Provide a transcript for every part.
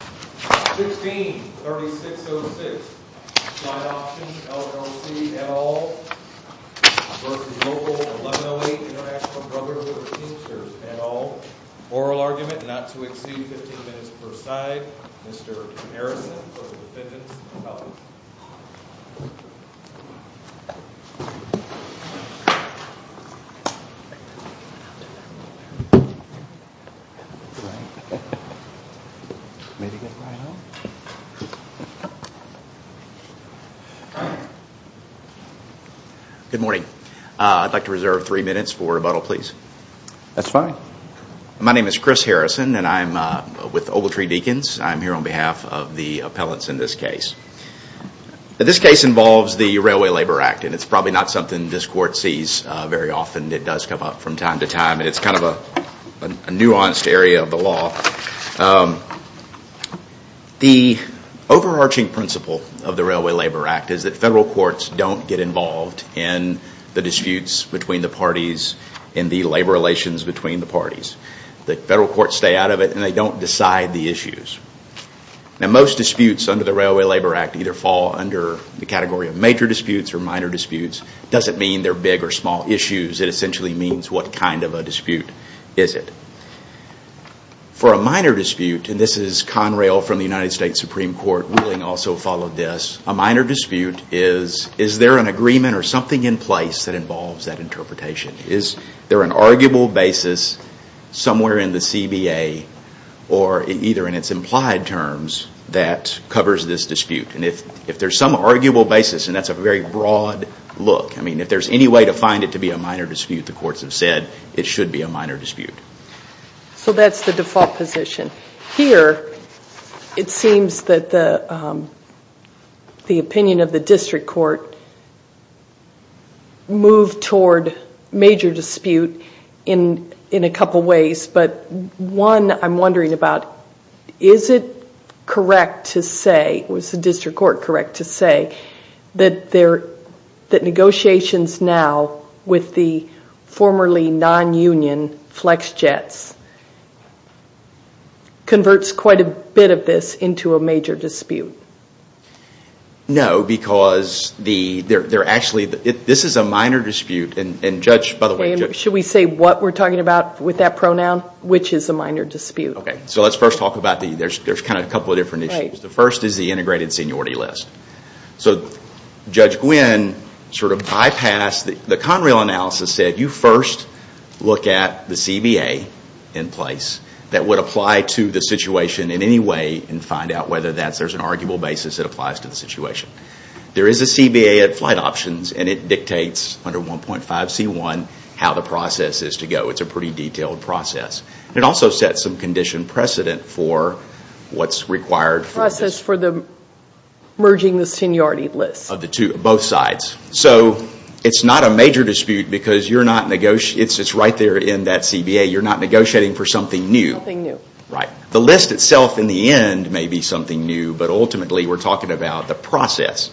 16-3606, Slide Options LLC et al. v. Local 1108 International Brotherhood of Teamsters et al. Oral argument not to exceed 15 minutes per side. Mr. Harrison for the defendants. Good morning. I'd like to reserve three minutes for rebuttal please. That's fine. My name is Chris Harrison and I'm with Ogletree Deacons. I'm here on behalf of the appellants in this case. This case involves the Railway Labor Act and it's probably not something this court sees very often. It does come up from time to time and it's kind of a The overarching principle of the Railway Labor Act is that federal courts don't get involved in the disputes between the parties and the labor relations between the parties. The federal courts stay out of it and they don't decide the issues. Most disputes under the Railway Labor Act either fall under the category of major disputes or minor disputes. It doesn't mean they're big or small issues. It essentially means what kind of a dispute is it. For a minor dispute, and this is Conrail from the United States Supreme Court ruling also followed this. A minor dispute is, is there an agreement or something in place that involves that interpretation? Is there an arguable basis somewhere in the CBA or either in its implied terms that covers this dispute? And if there's some arguable basis and that's a very broad look, I mean if there's any way to find it to be a minor dispute, the courts have said it should be a minor dispute. So that's the default position. Here, it seems that the opinion of the district court moved toward major dispute in a couple ways. One, I'm wondering about, is it correct to say, was the district court correct to say that negotiations now with the formerly non-union FlexJets converts quite a bit of this into a major dispute? No, because this is a minor dispute. Should we say what we're talking about with that pronoun, which is a minor dispute? Okay, so let's first talk about the, there's kind of a couple of different issues. The first is the integrated seniority list. So Judge Gwynne sort of bypassed, the Conrail analysis said you first look at the CBA in place that would apply to the situation in any way and find out whether there's an arguable basis that applies to the situation. There is a CBA at flight options and it dictates under 1.5C1 how the process is to go. It's a pretty detailed process. It also sets some condition precedent for what's required. Process for the merging the seniority list. Of the two, both sides. So it's not a major dispute because you're not, it's right there in that CBA. You're not negotiating for something new. Something new. Right. The list itself in the end may be something new, but ultimately we're talking about the process.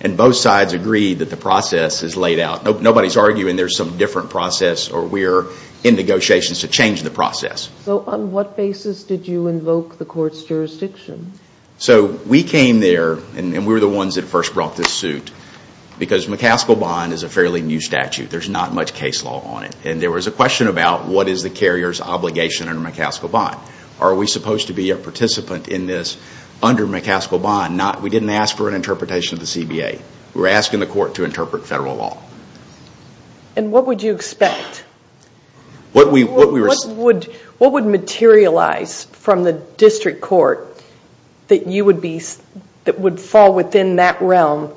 And both sides agreed that the process is laid out. Nobody's arguing there's some different process or we're in negotiations to change the process. So on what basis did you invoke the court's jurisdiction? So we came there and we were the ones that first brought this suit because McCaskill Bond is a fairly new statute. There's not much case law on it. And there was a question about what is the carrier's obligation under McCaskill Bond. Are we supposed to be a participant in this under McCaskill Bond? We didn't ask for an interpretation of the CBA. We were asking the court to interpret federal law. And what would you expect? What would materialize from the district court that would fall within that realm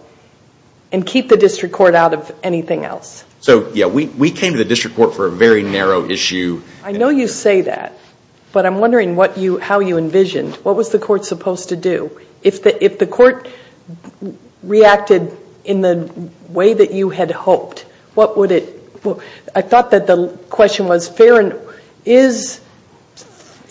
and keep the district court out of anything else? So, yeah, we came to the district court for a very narrow issue. I know you say that, but I'm wondering how you envisioned. What was the court supposed to do? If the court reacted in the way that you had hoped, what would it – I thought that the question was fair and –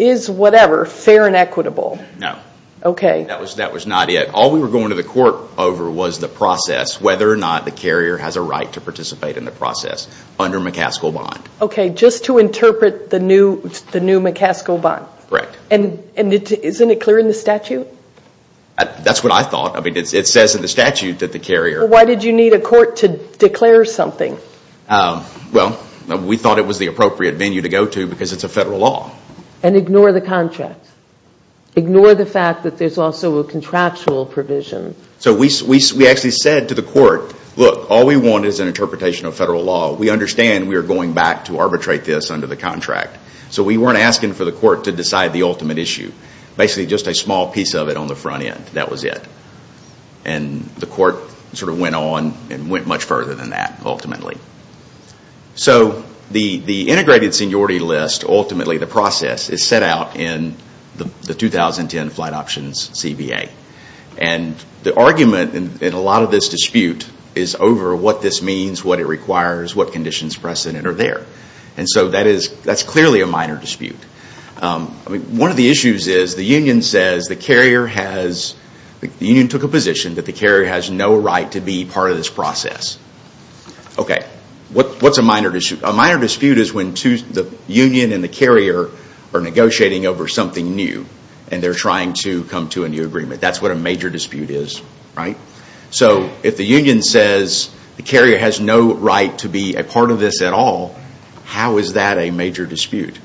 is whatever fair and equitable? No. Okay. That was not it. All we were going to the court over was the process, whether or not the carrier has a right to participate in the process under McCaskill Bond. Okay. Just to interpret the new McCaskill Bond. Correct. And isn't it clear in the statute? That's what I thought. It says in the statute that the carrier – Why did you need a court to declare something? Well, we thought it was the appropriate venue to go to because it's a federal law. And ignore the contract. Ignore the fact that there's also a contractual provision. So we actually said to the court, look, all we want is an interpretation of federal law. We understand we are going back to arbitrate this under the contract. So we weren't asking for the court to decide the ultimate issue. Basically, just a small piece of it on the front end. That was it. And the court sort of went on and went much further than that, ultimately. So the integrated seniority list, ultimately the process, is set out in the 2010 Flight Options CBA. And the argument in a lot of this dispute is over what this means, what it requires, what conditions of precedent are there. And so that's clearly a minor dispute. One of the issues is the union says the carrier has – the union took a position that the carrier has no right to be part of this process. Okay, what's a minor dispute? A minor dispute is when the union and the carrier are negotiating over something new. And they're trying to come to a new agreement. That's what a major dispute is, right? So if the union says the carrier has no right to be a part of this at all, how is that a major dispute?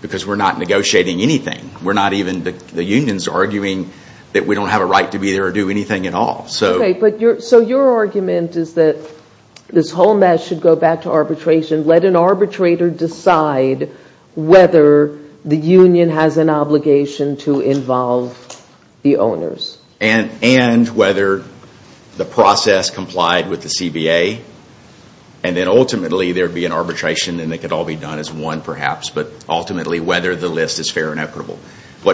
Because we're not negotiating anything. We're not even – the union's arguing that we don't have a right to be there or do anything at all. Okay, so your argument is that this whole mess should go back to arbitration. Let an arbitrator decide whether the union has an obligation to involve the owners. And whether the process complied with the CBA. And then ultimately there would be an arbitration, and it could all be done as one perhaps, but ultimately whether the list is fair and equitable.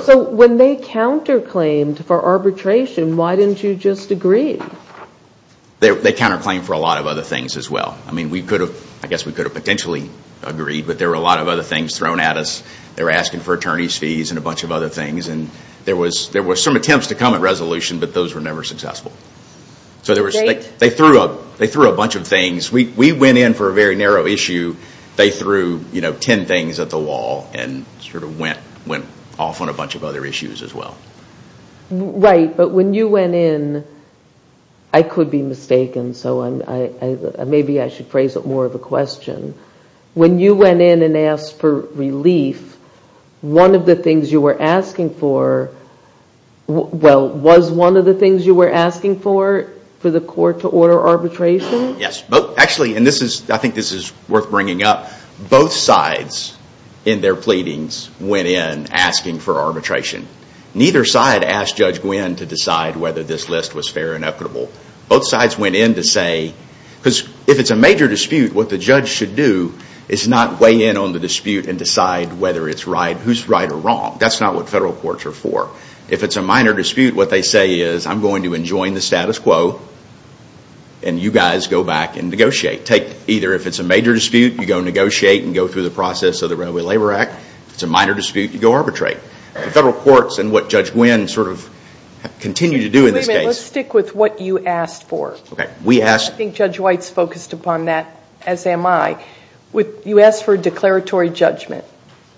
So when they counterclaimed for arbitration, why didn't you just agree? They counterclaimed for a lot of other things as well. I mean, we could have – I guess we could have potentially agreed, but there were a lot of other things thrown at us. They were asking for attorney's fees and a bunch of other things. And there were some attempts to come at resolution, but those were never successful. So they threw a bunch of things. We went in for a very narrow issue. They threw ten things at the wall and sort of went off on a bunch of other issues as well. Right, but when you went in, I could be mistaken, so maybe I should phrase it more of a question. When you went in and asked for relief, one of the things you were asking for – well, was one of the things you were asking for, for the court to order arbitration? Yes. Actually, and I think this is worth bringing up, both sides in their pleadings went in asking for arbitration. Neither side asked Judge Gwinn to decide whether this list was fair and equitable. Both sides went in to say – because if it's a major dispute, what the judge should do is not weigh in on the dispute and decide whether it's right, who's right or wrong. That's not what federal courts are for. If it's a minor dispute, what they say is, I'm going to enjoin the status quo and you guys go back and negotiate. Either if it's a major dispute, you go negotiate and go through the process of the Railway Labor Act. If it's a minor dispute, you go arbitrate. Federal courts, and what Judge Gwinn sort of continued to do in this case – Wait a minute, let's stick with what you asked for. Okay, we asked – I think Judge White's focused upon that, as am I. You asked for a declaratory judgment.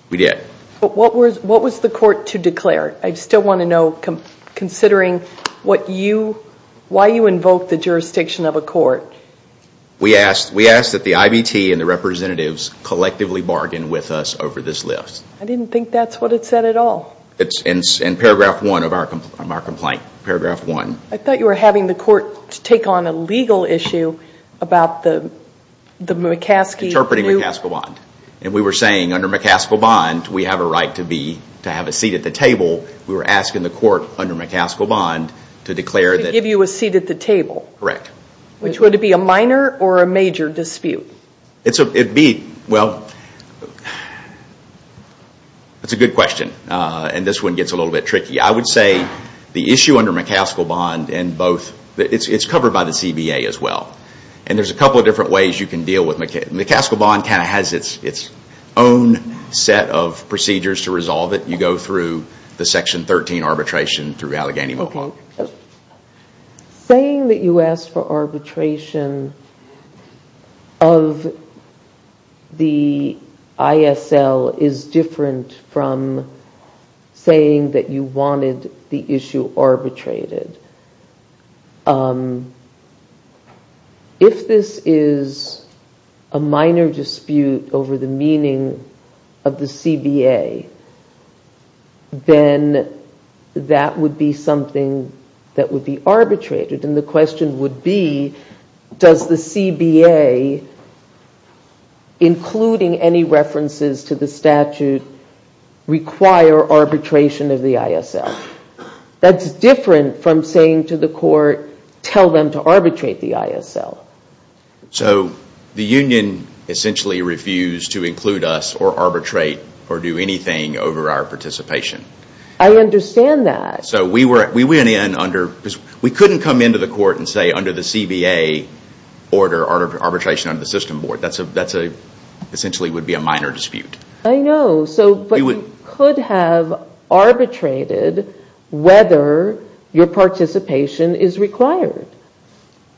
We did. What was the court to declare? I still want to know, considering what you – why you invoked the jurisdiction of a court. We asked that the IBT and the representatives collectively bargain with us over this list. I didn't think that's what it said at all. It's in paragraph one of our complaint, paragraph one. I thought you were having the court take on a legal issue about the McCaskey – Interpreting McCaskey bond. And we were saying under McCaskey bond, we have a right to have a seat at the table. We were asking the court under McCaskey bond to declare that – To give you a seat at the table. Correct. Which would it be, a minor or a major dispute? It'd be – well, it's a good question. And this one gets a little bit tricky. I would say the issue under McCaskey bond and both – it's covered by the CBA as well. And there's a couple of different ways you can deal with – McCaskey bond kind of has its own set of procedures to resolve it. You go through the section 13 arbitration through Allegheny-Mulholland. Saying that you asked for arbitration of the ISL is different from saying that you wanted the issue arbitrated. If this is a minor dispute over the meaning of the CBA, then that would be something that would be arbitrated. And the question would be, does the CBA, including any references to the statute, require arbitration of the ISL? That's different from saying to the court, tell them to arbitrate the ISL. So the union essentially refused to include us or arbitrate or do anything over our participation. I understand that. So we went in under – we couldn't come into the court and say under the CBA order, arbitration under the system board. That essentially would be a minor dispute. I know. But you could have arbitrated whether your participation is required.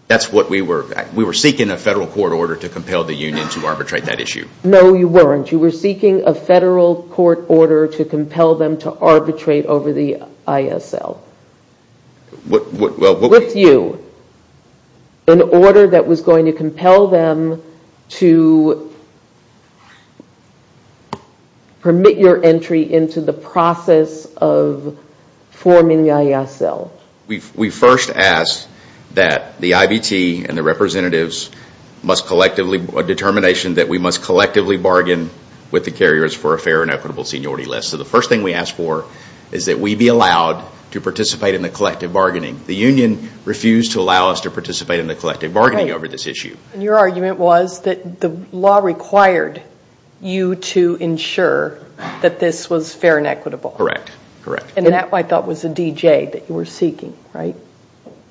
That's what we were – we were seeking a federal court order to compel the union to arbitrate that issue. No, you weren't. You were seeking a federal court order to compel them to arbitrate over the ISL. With you. An order that was going to compel them to permit your entry into the process of forming the ISL. We first asked that the IBT and the representatives must collectively – a determination that we must collectively bargain with the carriers for a fair and equitable seniority list. So the first thing we asked for is that we be allowed to participate in the collective bargaining. The union refused to allow us to participate in the collective bargaining over this issue. And your argument was that the law required you to ensure that this was fair and equitable. Correct. And that, I thought, was the DJ that you were seeking, right?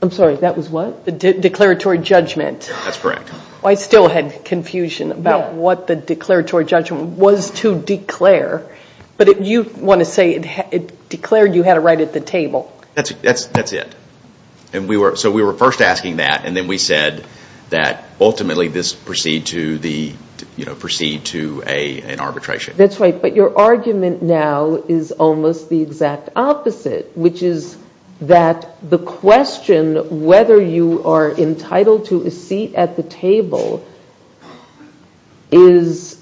I'm sorry, that was what? The declaratory judgment. That's correct. I still had confusion about what the declaratory judgment was to declare. But you want to say it declared you had a right at the table. That's it. So we were first asking that, and then we said that ultimately this would proceed to an arbitration. That's right. But your argument now is almost the exact opposite, which is that the question whether you are entitled to a seat at the table is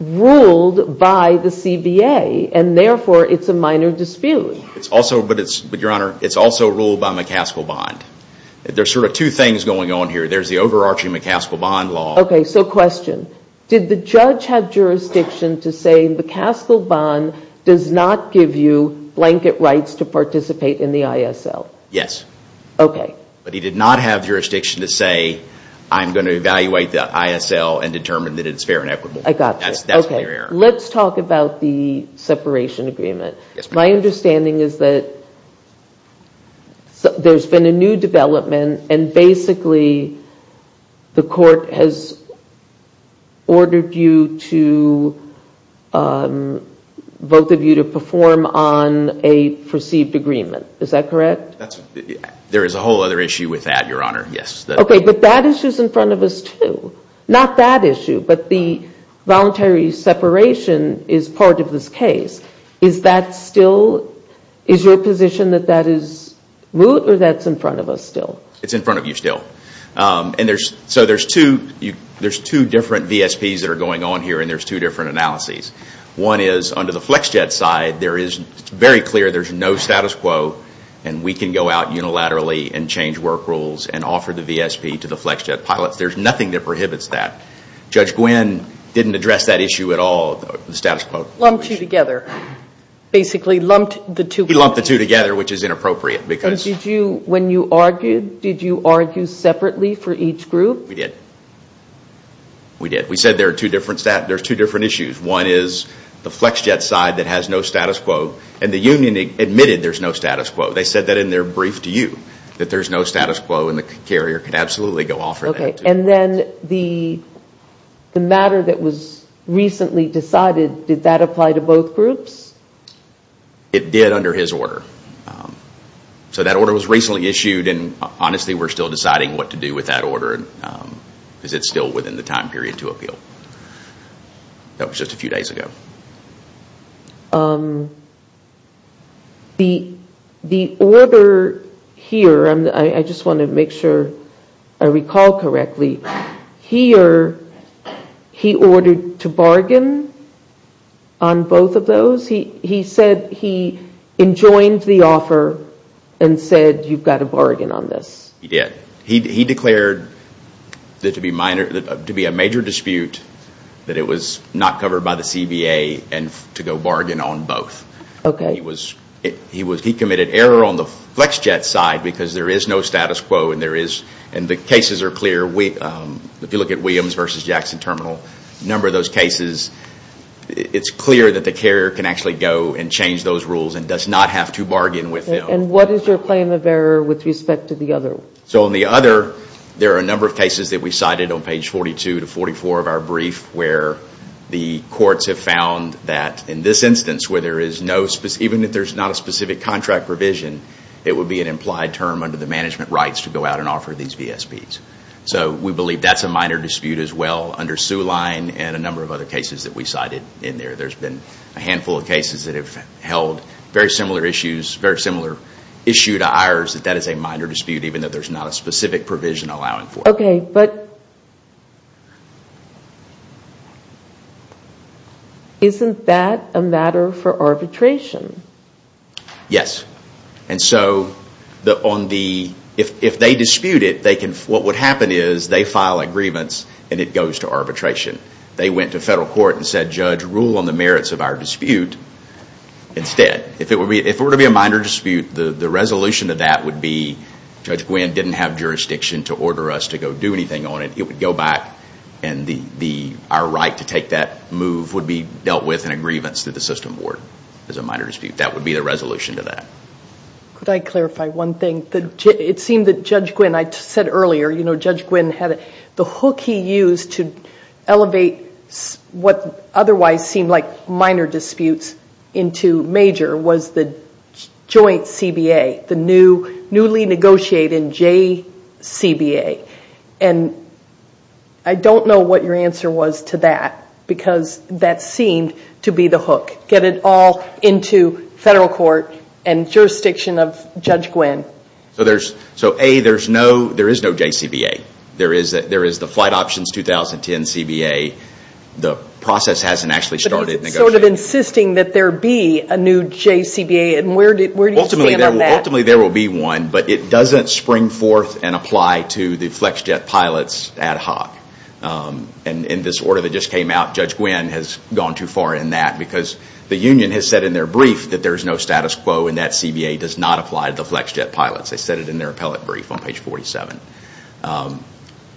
ruled by the CBA, and therefore it's a minor dispute. But, Your Honor, it's also ruled by McCaskill Bond. There's sort of two things going on here. There's the overarching McCaskill Bond law. Okay. So question. Did the judge have jurisdiction to say McCaskill Bond does not give you blanket rights to participate in the ISL? Yes. Okay. But he did not have jurisdiction to say I'm going to evaluate the ISL and determine that it's fair and equitable. I got you. That's my error. Okay. Let's talk about the separation agreement. My understanding is that there's been a new development, and basically the court has ordered both of you to perform on a perceived agreement. Is that correct? There is a whole other issue with that, Your Honor. Okay. But that issue is in front of us, too. Not that issue, but the voluntary separation is part of this case. Is that still – is your position that that is root, or that's in front of us still? It's in front of you still. So there's two different VSPs that are going on here, and there's two different analyses. One is under the FlexJet side, it's very clear there's no status quo, and we can go out unilaterally and change work rules and offer the VSP to the FlexJet pilots. There's nothing that prohibits that. Judge Gwynne didn't address that issue at all, the status quo. He lumped the two together, which is inappropriate. When you argued, did you argue separately for each group? We did. We did. We said there's two different issues. One is the FlexJet side that has no status quo, and the union admitted there's no status quo. They said that in their brief to you, that there's no status quo, and the carrier could absolutely go off on that. And then the matter that was recently decided, did that apply to both groups? It did under his order. So that order was recently issued, and honestly we're still deciding what to do with that order, because it's still within the time period to appeal. That was just a few days ago. The order here, I just want to make sure I recall correctly, here he ordered to bargain on both of those? He said he enjoined the offer and said you've got to bargain on this. He did. He declared to be a major dispute, that it was not covered by the CBA, and to go bargain on both. He committed error on the FlexJet side, because there is no status quo, and the cases are clear. If you look at Williams v. Jackson Terminal, a number of those cases, it's clear that the carrier can actually go and change those rules and does not have to bargain with them. And what is your claim of error with respect to the other? So on the other, there are a number of cases that we cited on page 42 to 44 of our brief, where the courts have found that in this instance, even if there's not a specific contract revision, it would be an implied term under the management rights to go out and offer these VSPs. So we believe that's a minor dispute as well under Soo Line and a number of other cases that we cited in there. There's been a handful of cases that have held very similar issues, very similar issue to ours, that that is a minor dispute, even though there's not a specific provision allowing for it. Okay, but isn't that a matter for arbitration? Yes. And so if they dispute it, what would happen is they file a grievance, and it goes to arbitration. They went to federal court and said, judge, rule on the merits of our dispute instead. If it were to be a minor dispute, the resolution to that would be, Judge Gwynne didn't have jurisdiction to order us to go do anything on it. It would go back, and our right to take that move would be dealt with in a grievance to the system board as a minor dispute. That would be the resolution to that. Could I clarify one thing? It seemed that Judge Gwynne, I said earlier, you know, Judge Gwynne had, the hook he used to elevate what otherwise seemed like minor disputes into major was the joint CBA, the newly negotiated JCBA. And I don't know what your answer was to that, because that seemed to be the hook. Get it all into federal court and jurisdiction of Judge Gwynne. So A, there is no JCBA. There is the Flight Options 2010 CBA. The process hasn't actually started negotiating. But is it sort of insisting that there be a new JCBA, and where do you stand on that? Ultimately, there will be one, but it doesn't spring forth and apply to the flex jet pilots ad hoc. In this order that just came out, Judge Gwynne has gone too far in that, because the union has said in their brief that there is no status quo, and that CBA does not apply to the flex jet pilots. They said it in their appellate brief on page 47.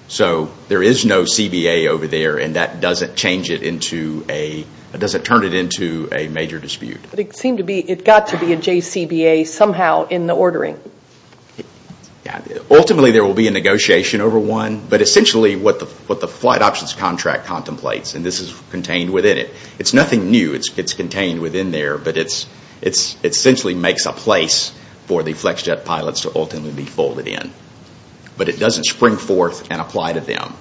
So there is no CBA over there, and that doesn't change it into a, doesn't turn it into a major dispute. But it seemed to be, it got to be a JCBA somehow in the ordering. Ultimately, there will be a negotiation over one, but essentially what the flight options contract contemplates, and this is contained within it, it's nothing new, it's contained within there, but it essentially makes a place for the flex jet pilots to ultimately be folded in. But it doesn't spring forth and apply to them.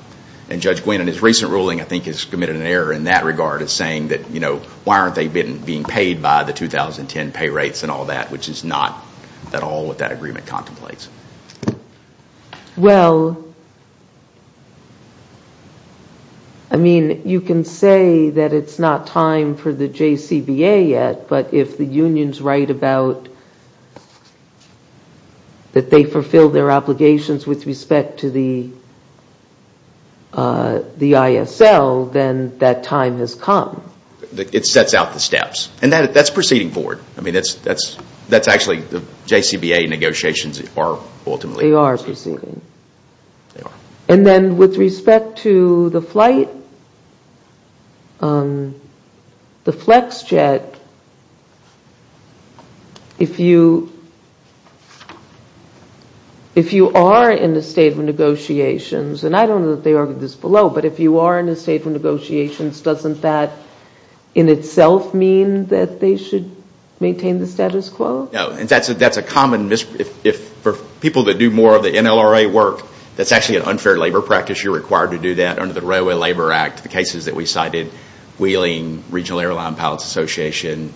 And Judge Gwynne, in his recent ruling, I think has committed an error in that regard, in saying that why aren't they being paid by the 2010 pay rates and all that, which is not at all what that agreement contemplates. Well, I mean, you can say that it's not time for the JCBA yet, but if the unions write about that they fulfill their obligations with respect to the ISL, then that time has come. It sets out the steps, and that's proceeding forward. That's actually, the JCBA negotiations are ultimately proceeding. They are proceeding. And then with respect to the flight, the flex jet, if you are in a state of negotiations, and I don't know that they argue this below, doesn't that in itself mean that they should maintain the status quo? No, and that's a common, for people that do more of the NLRA work, that's actually an unfair labor practice. You're required to do that under the Railway Labor Act. The cases that we cited, Wheeling Regional Airline Pilots Association,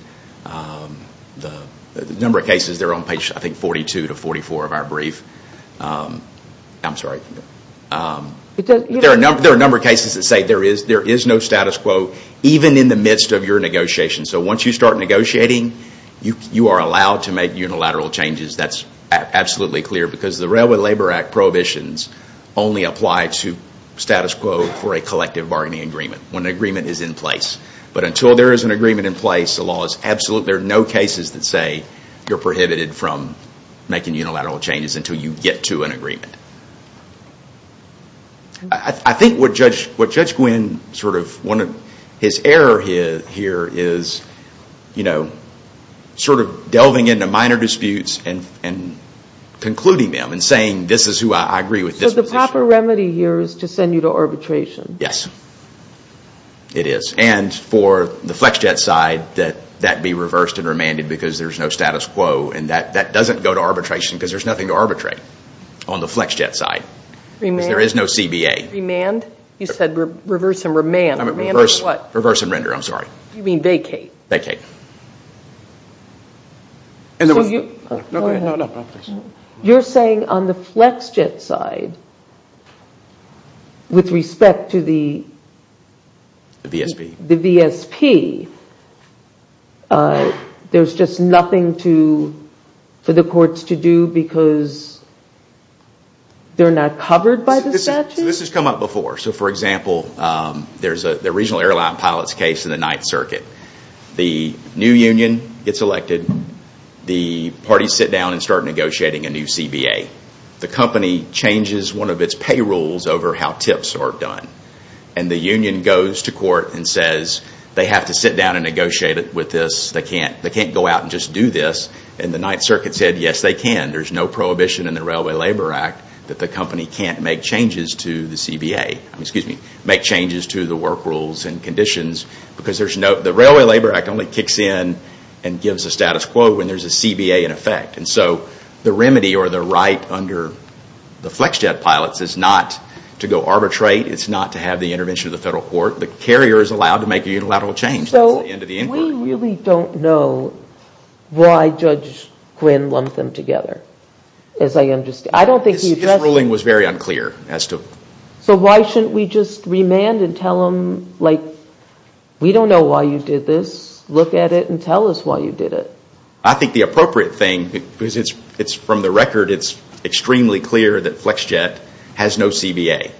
the number of cases, they're on page, I think, 42 to 44 of our brief. I'm sorry. There are a number of cases that say there is no status quo, even in the midst of your negotiations. So once you start negotiating, you are allowed to make unilateral changes. That's absolutely clear, because the Railway Labor Act prohibitions only apply to status quo for a collective bargaining agreement, when an agreement is in place. But until there is an agreement in place, there are no cases that say you're prohibited from making unilateral changes until you get to an agreement. I think what Judge Gwynne, one of his errors here is delving into minor disputes and concluding them and saying, this is who I agree with. So the proper remedy here is to send you to arbitration. Yes, it is. And for the FlexJet side, that be reversed and remanded because there is no status quo and that doesn't go to arbitration because there is nothing to arbitrate on the FlexJet side. There is no CBA. Remand? You said reverse and remand. Reverse and render, I'm sorry. You mean vacate? Vacate. You're saying on the FlexJet side, with respect to the VSP, there's just nothing for the courts to do because they're not covered by the statute? This has come up before. So for example, there's a regional airline pilot's case in the 9th Circuit. The new union gets elected. The parties sit down and start negotiating a new CBA. The company changes one of its payrolls over how tips are done. And the union goes to court and says they have to sit down and negotiate with this. They can't go out and just do this. And the 9th Circuit said yes, they can. There's no prohibition in the Railway Labor Act that the company can't make changes to the CBA. Make changes to the work rules and conditions because the Railway Labor Act only kicks in and gives a status quo when there's a CBA in effect. And so the remedy or the right under the FlexJet pilots is not to go arbitrate. It's not to have the intervention of the federal court. The carrier is allowed to make a unilateral change. We really don't know why Judge Quinn lumped them together. His ruling was very unclear. So why shouldn't we just remand and tell him we don't know why you did this. Look at it and tell us why you did it. I think the appropriate thing because from the record it's extremely clear that FlexJet has no CBA.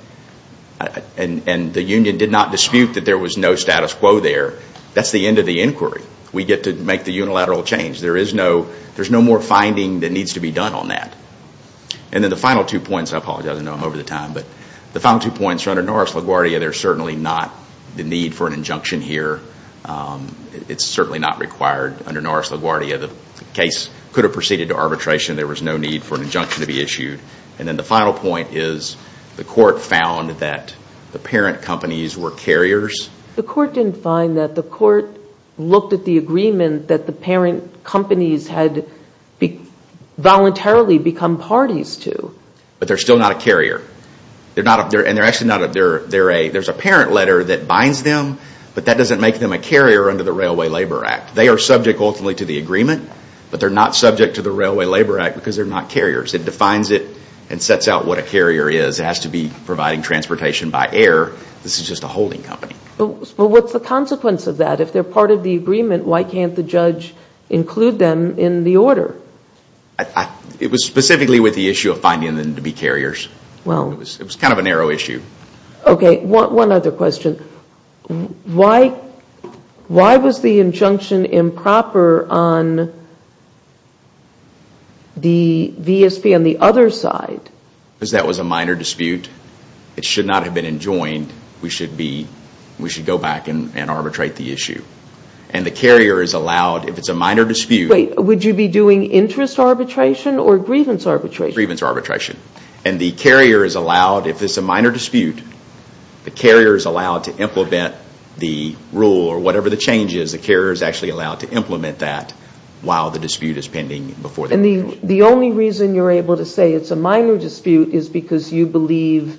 And the union did not dispute that there was no status quo there. That's the end of the inquiry. We get to make the unilateral change. There's no more finding that needs to be done on that. And then the final two points, under Norris LaGuardia there's certainly not the need for an injunction here. It's certainly not required under Norris LaGuardia. The case could have proceeded to arbitration. There was no need for an injunction to be issued. And then the final point is the court found that the parent companies were carriers. The court didn't find that. The court looked at the agreement that the parent companies had voluntarily become parties to. But they're still not a carrier. There's a parent letter that binds them but that doesn't make them a carrier under the Railway Labor Act. They are subject ultimately to the agreement but they're not subject to the Railway Labor Act because they're not carriers. It defines it and sets out what a carrier is. It has to be providing transportation by air. This is just a holding company. But what's the consequence of that? If they're part of the agreement, why can't the judge include them in the order? It was specifically with the issue of finding them to be carriers. It was kind of a narrow issue. One other question. Why was the injunction improper on the VSP on the other side? Because that was a minor dispute. It should not have been enjoined. We should go back and arbitrate the issue. And the carrier is allowed, if it's a minor dispute... Wait, would you be doing interest arbitration or grievance arbitration? Grievance arbitration. If it's a minor dispute, the carrier is allowed to implement the rule or whatever the change is. The carrier is actually allowed to implement that while the dispute is pending. The only reason you're able to say it's a minor dispute is because you believe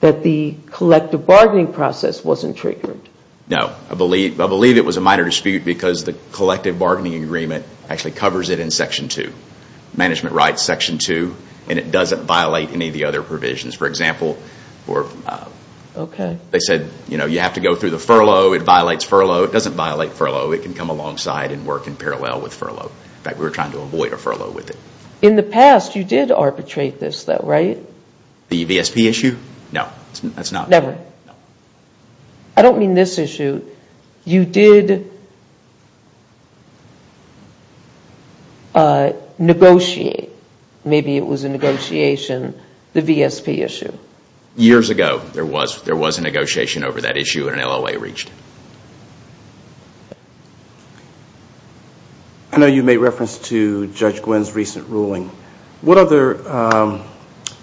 that the collective bargaining process wasn't triggered. No. I believe it was a minor dispute because the collective bargaining agreement actually covers it in section 2. Management rights section 2. And it doesn't violate any of the other provisions. For example, they said you have to go through the furlough. It violates furlough. It doesn't violate furlough. It can come alongside and work in parallel with furlough. In fact, we were trying to avoid a furlough with it. In the past, you did arbitrate this, right? The VSP issue? No. Never. I don't mean this issue. You did negotiate. Maybe it was a negotiation. The VSP issue. Years ago, there was a negotiation over that issue and an LOA reached it. I know you made reference to Judge Gwinn's recent ruling. What other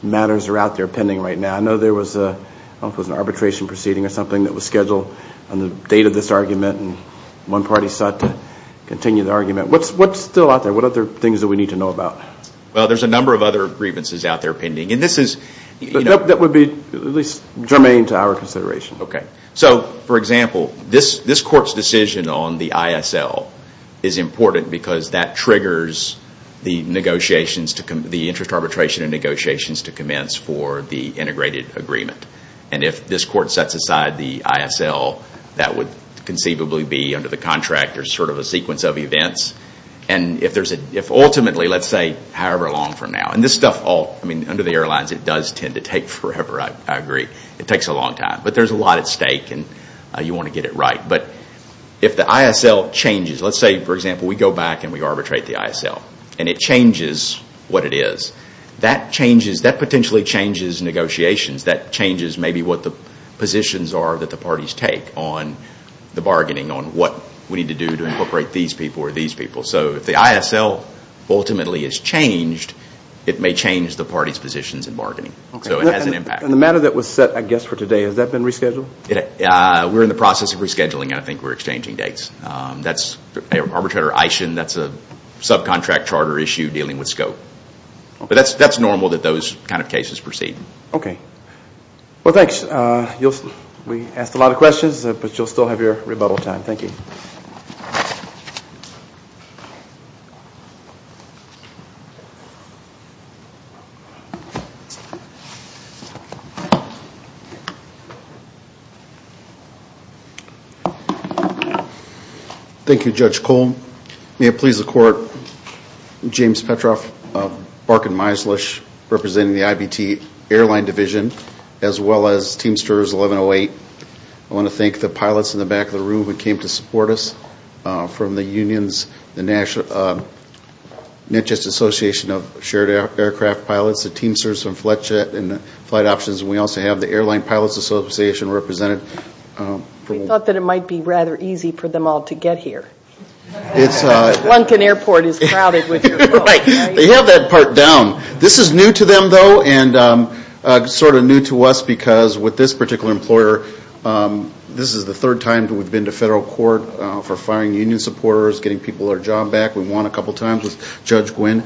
matters are out there pending right now? I know there was an arbitration proceeding or something that was scheduled on the date of this argument. One party sought to continue the argument. What's still out there? What other things do we need to know about? There's a number of other grievances out there pending. That would be at least germane to our consideration. For example, this Court's decision on the ISL is important because that triggers the interest arbitration and negotiations to commence for the integrated agreement. If this Court sets aside the ISL, that would conceivably be under the contract a sequence of events. Ultimately, however long from now. Under the airlines, it does tend to take forever. It takes a long time. There's a lot at stake and you want to get it right. If the ISL changes, let's say we go back and arbitrate the ISL and it changes what it is, that potentially changes negotiations. That changes maybe what the positions are that the parties take on the bargaining on what we need to do to incorporate these people or these people. If the ISL ultimately is changed, it may change the parties' positions in bargaining. The matter that was set for today, has that been rescheduled? We're in the process of rescheduling and I think we're exchanging dates. Arbitrator Ishin, that's a subcontract charter issue dealing with scope. That's normal that those kinds of cases proceed. Thanks. We asked a lot of questions, but you'll still have your rebuttal time. Thank you, Judge Cole. May it please the Court, James Petroff, Barkin Meislish representing the IBT Airline Division as well as Teamsters 1108. I want to thank the pilots in the back of the room who came to support us from the unions, the NHS Association of Shared Aircraft Pilots, the Teamsters from Flightjet and Flight Options. We also have the Airline Pilots Association represented. We thought that it might be rather easy for them all to get here. Lunkin Airport is crowded with your folks. They have that part down. This is new to them, though, and sort of new to us because with this particular employer, this is the third time we've been to federal court for firing union supporters, getting people their job back. We won a couple times with Judge Gwynn.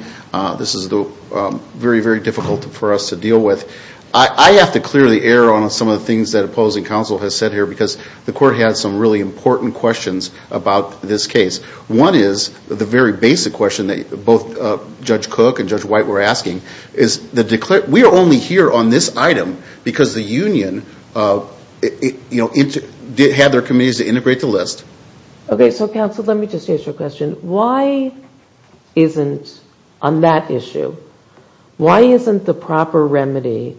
This is very, very difficult for us to deal with. I have to clear the air on some of the things that opposing counsel has said here because the court has some really important questions about this case. One is the very basic question that both Judge Cook and Judge White were asking. We are only here on this item because the union had their committees to integrate the list. Okay, so counsel, let me just ask you a question. Why isn't, on that issue, why isn't the proper remedy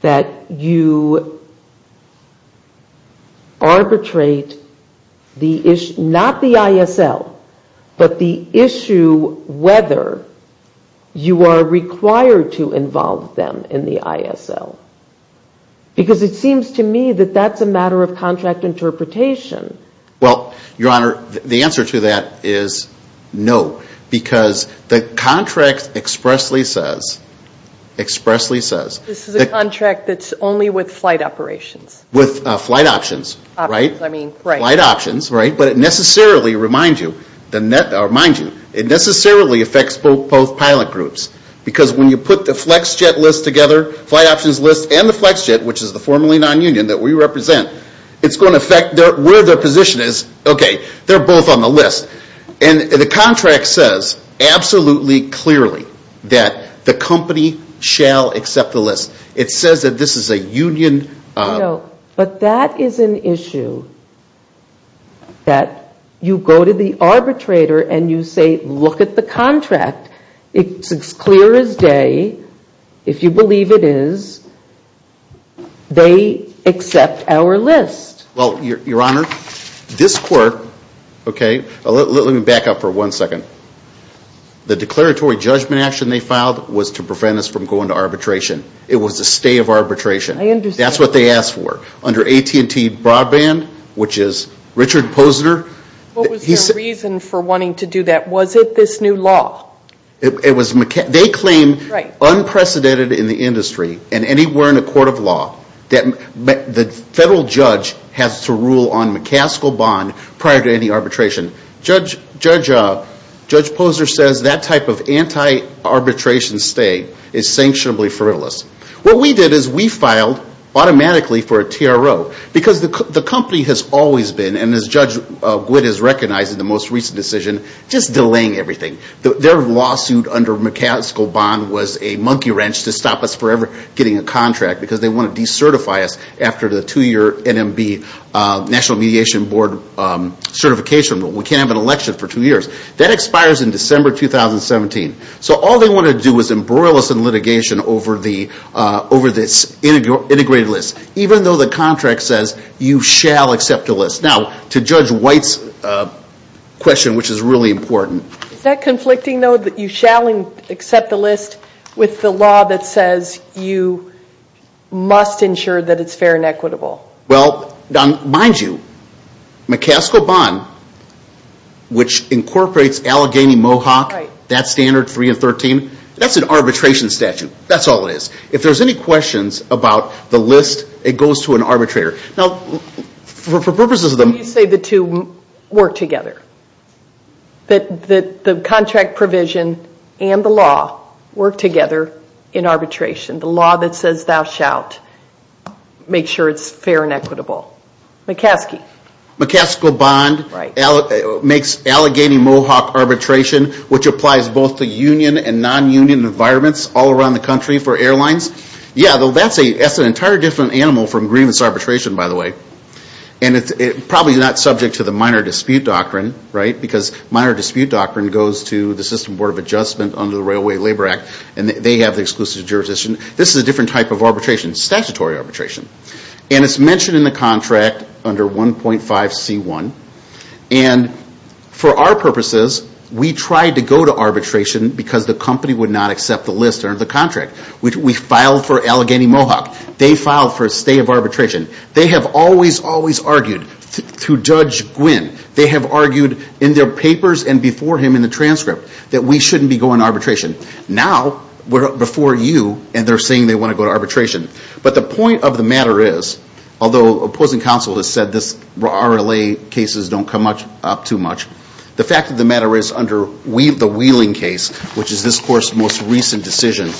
that you arbitrate the issue, not the ISL, but the issue whether you are required to involve them in the ISL? Because it seems to me that that's a matter of contract interpretation. Well, Your Honor, the answer to that is no, because the contract expressly says This is a contract that's only with flight operations. With flight options, right? But it necessarily reminds you it necessarily affects both pilot groups because when you put the flex jet list together, flight options list, and the flex jet, which is the formerly non-union that we represent, it's going to affect where their position is. Okay, they're both on the list. And the contract says absolutely clearly that the company shall accept the list. It says that this is a union... No, but that is an issue that you go to the arbitrator and you say look at the contract. It's as clear as day, if you believe it is, they accept our list. Well, Your Honor, this court let me back up for one second the declaratory judgment action they filed was to prevent us from going to arbitration. It was a stay of arbitration. That's what they asked for. Under AT&T Broadband, which is Richard Posner What was the reason for wanting to do that? Was it this new law? They claim, unprecedented in the industry and anywhere in the court of law that the federal judge has to rule on McCaskill Bond prior to any arbitration. Judge Posner says that type of anti-arbitration stay is sanctionably frivolous. What we did is we filed automatically for a TRO because the company has always been and as Judge Gwyd has recognized in the most recent decision just delaying everything. Their lawsuit under McCaskill Bond was a monkey wrench to stop us forever getting a contract because they want to decertify us after the two year NMB National Mediation Board certification rule. We can't have an election for two years. That expires in December 2017. So all they want to do is embroil us in litigation over this integrated list, even though the contract says you shall accept the list. Now, to Judge Gwyd's question, which is really important Is that conflicting though, that you shall accept the list with the law that says you must ensure that it's fair and equitable? Well, mind you, McCaskill Bond which incorporates Allegheny Mohawk that standard 3 and 13, that's an arbitration statute. That's all it is. If there's any questions about the list, it goes to an arbitrator. Now, for purposes of them You say the two work together. The contract provision and the law work together in arbitration. The law that says thou shalt make sure it's fair and equitable. McCaskill? McCaskill Bond makes Allegheny Mohawk arbitration, which applies both to union and non-union environments all around the country for airlines. Yeah, that's an entire different animal from grievance arbitration by the way. And it's probably not subject to the minor dispute doctrine, right? Because minor dispute doctrine goes to the System Board of Adjustment under the Railway Labor Act and they have the exclusive jurisdiction. This is a different type of arbitration. Statutory arbitration. And it's mentioned in the contract under 1.5C1 and for our purposes we tried to go to arbitration because the company would not accept the list under the contract. We filed for Allegheny Mohawk. They filed for a stay of arbitration. They have always argued through Judge Gwynn. They have argued in their papers and before him in the transcript that we shouldn't be going to arbitration. Now we're before you and they're saying they want to go to arbitration. But the point of the matter is, although opposing counsel has said this RLA cases don't come up too much, the fact of the matter is under the Wheeling case, which is this Court's most recent decision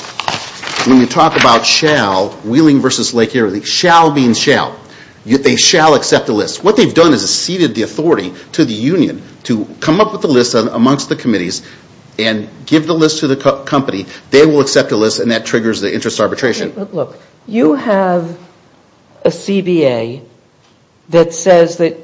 when you talk about shall, Wheeling versus Lake Erie shall means shall. They shall accept the list. What they've done is ceded the authority to the union to come up with the list amongst the committees and give the list to the company. They will accept the list and that triggers the interest arbitration. You have a CBA that says that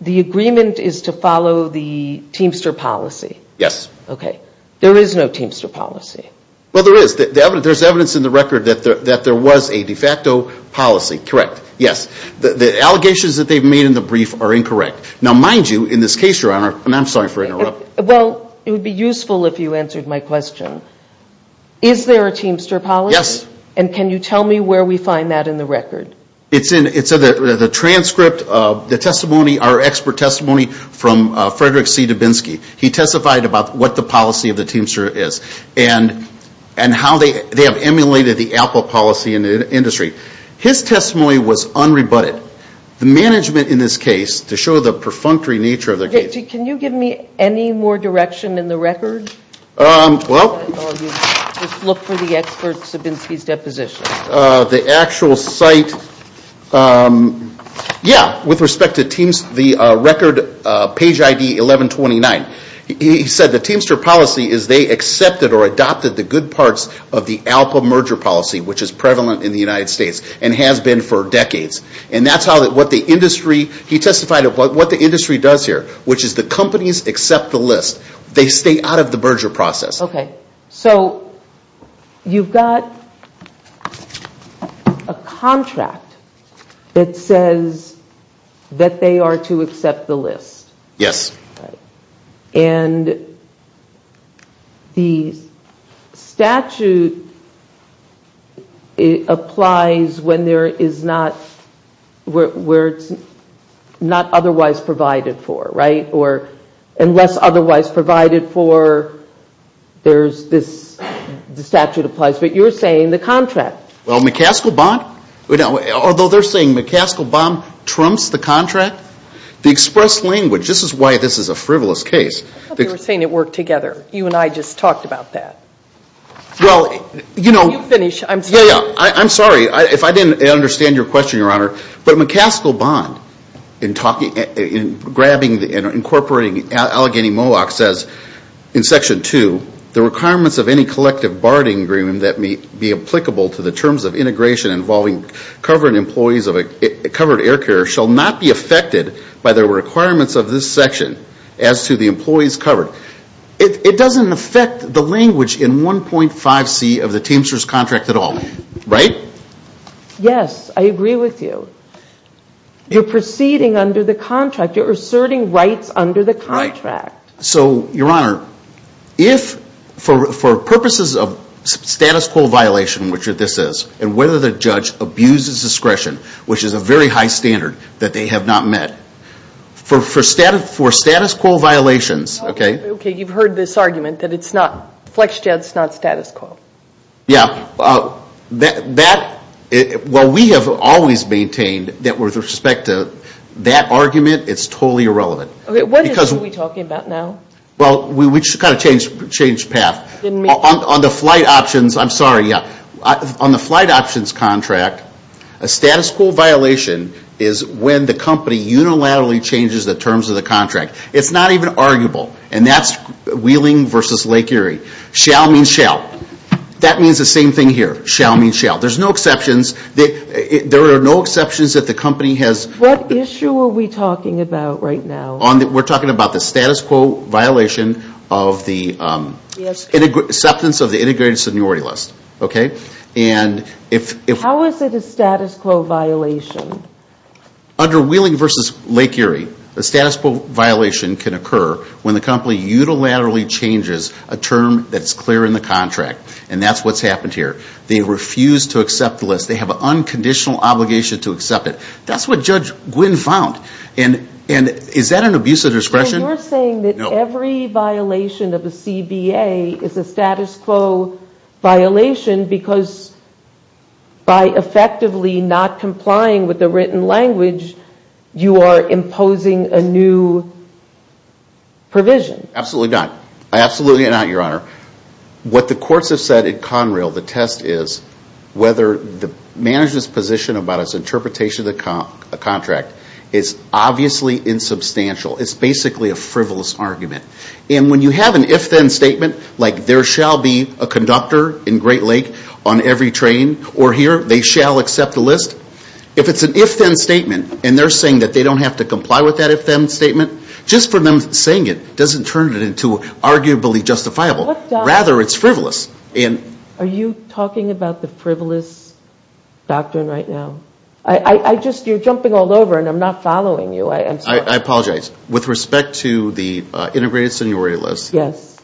the agreement is to follow the Teamster policy. Yes. Okay. There is no Teamster policy. Well, there is. There's evidence in the record that there was a de facto policy. Correct. Yes. The allegations that they've made in the brief are incorrect. Now mind you in this case, Your Honor, and I'm sorry for interrupting. Well, it would be useful if you answered my question. Is there a Teamster policy? Yes. And can you tell me where we find that in the record? It's in the transcript of the testimony, our expert testimony from Frederick C. Dubinsky. He testified about what the policy of the Teamster is and how they have emulated the Apple policy in the industry. His testimony was unrebutted. The management in this case, to show the perfunctory nature of their case... Can you give me any more direction in the record? Well... Just look for the experts of Dubinsky's deposition. The actual site... Yeah. With respect to the record page ID 1129. He said the Teamster policy is they accepted or adopted the good parts of the Alpha merger policy, which is prevalent in the United States and has been for decades. And that's how the industry... He testified of what the industry does here, which is the companies accept the list. They stay out of the merger process. Okay. So... you've got a contract that says that they are to accept the list. Yes. And the statute applies when there is not... where it's not otherwise provided for, right? Or unless otherwise provided for, there's this... Well, McCaskill-Bond... Although they're saying McCaskill-Bond trumps the contract, the express language... This is why this is a frivolous case. I thought they were saying it worked together. You and I just talked about that. Well, you know... You finish. I'm sorry. Yeah, yeah. I'm sorry. If I didn't understand your question, Your Honor. But McCaskill-Bond in grabbing and incorporating Allegheny-Mohawk says, in Section 2, the requirements of any collective bargaining agreement that may be applicable to the terms of integration involving covering employees of a covered air carrier shall not be affected by the requirements of this section as to the employees covered. It doesn't affect the language in 1.5C of the Teamsters contract at all. Right? Yes. I agree with you. You're proceeding under the contract. You're asserting rights under the contract. Right. So, Your Honor, if for purposes of status quo violation, which this is, and whether the judge abuses discretion, which is a very high standard that they have not met, for status quo violations... Okay, you've heard this argument that it's not... FlexJet's not status quo. Yeah. That... Well, we have always maintained that with respect to that argument, it's totally irrelevant. Okay, what issue are we talking about now? Well, we just kind of changed path. On the flight options... I'm sorry, yeah. On the flight options contract, a status quo violation is when the company unilaterally changes the terms of the contract. It's not even arguable. And that's Wheeling versus Lake Erie. Shall means shall. That means the same thing here. Shall means shall. There's no exceptions. There are no What are we talking about right now? We're talking about the status quo violation of the acceptance of the integrated seniority list. Okay? And if... How is it a status quo violation? Under Wheeling versus Lake Erie, a status quo violation can occur when the company unilaterally changes a term that's clear in the contract. And that's what's happened here. They refuse to accept the list. They have an unconditional obligation to accept it. That's what Judge Gwynne found. And is that an abuse of discretion? You're saying that every violation of the CBA is a status quo violation because by effectively not complying with the written language, you are imposing a new provision. Absolutely not. Absolutely not, Your Honor. What the courts have said at Conrail, the test is whether the manager's position about his interpretation of the contract is obviously insubstantial. It's basically a frivolous argument. And when you have an if-then statement, like there shall be a conductor in Great Lake on every train or here, they shall accept the list. If it's an if-then statement and they're saying that they don't have to comply with that if-then statement, just for them saying it doesn't turn it into arguably justifiable. Rather, it's frivolous. Are you talking about the frivolous doctrine right now? I just, you're jumping all over and I'm not following you. I'm sorry. I apologize. With respect to the integrated seniority list,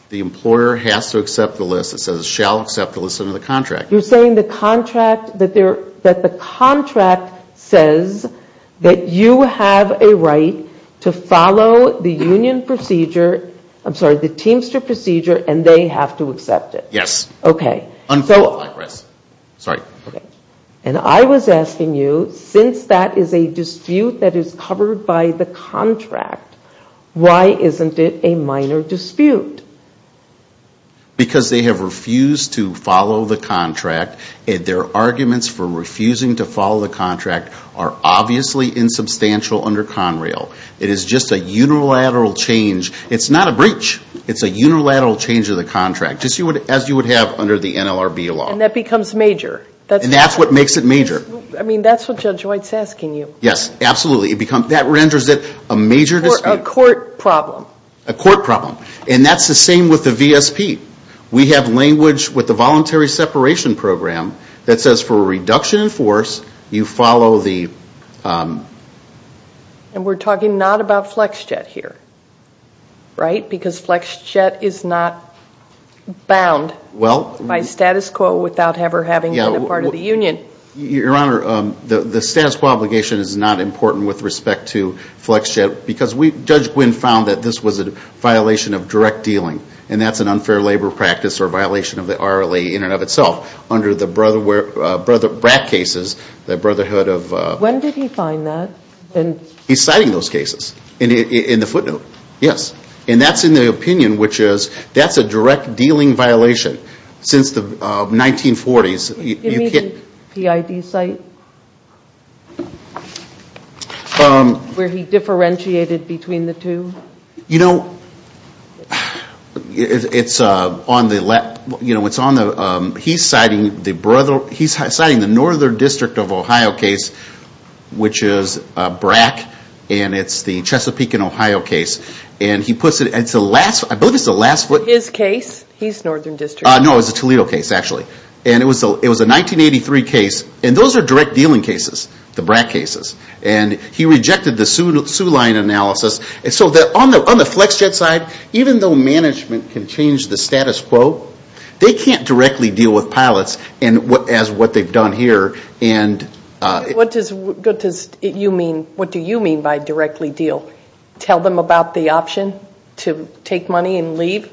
the employer has to accept the list. It says it shall accept the list under the contract. You're saying the contract that the contract says that you have a right to follow the union procedure, I'm sorry, the Teamster procedure, and they have to accept it? Yes. Okay. And I was asking you, since that is a dispute that is covered by the contract, why isn't it a minor dispute? Because they have refused to follow the contract. Their arguments for refusing to follow the contract are obviously insubstantial under Conrail. It is just a unilateral change. It's not a breach. It's a unilateral change of the contract, as you would have under the NLRB law. And that becomes major. And that's what makes it major. I mean, that's what Judge White is asking you. Yes, absolutely. That renders it a major dispute. Or a court problem. A court problem. And that's the same with the VSP. We have language with the Voluntary Separation Program that says for a reduction in force, you follow the... And we're talking not about FlexJet here. Right? Because FlexJet is not bound by status quo without ever having been a part of the union. Your Honor, the status quo obligation is not important with respect to FlexJet because Judge Gwynne found that this was a violation of direct dealing. And that's an unfair labor practice or violation of the RLA in and of itself. Under the BRAC cases, the Brotherhood of... He's citing those cases in the footnote. Yes. And that's in the opinion, which is that's a direct dealing violation since the 1940s. You mean the PID site? Where he differentiated between the two? You know, it's on the left. He's citing the Northern District of Ohio case, which is BRAC. And it's the Chesapeake and Ohio case. And he puts it... I believe it's the last... His case? He's Northern District. No, it was the Toledo case, actually. And it was a 1983 case. And those are direct dealing cases, the BRAC cases. And he rejected the Soo Line analysis. And so on the FlexJet side, even though management can change the status quo, they can't directly deal with pilots as what they've done here. What do you mean by directly deal? Tell them about the option to take money and leave?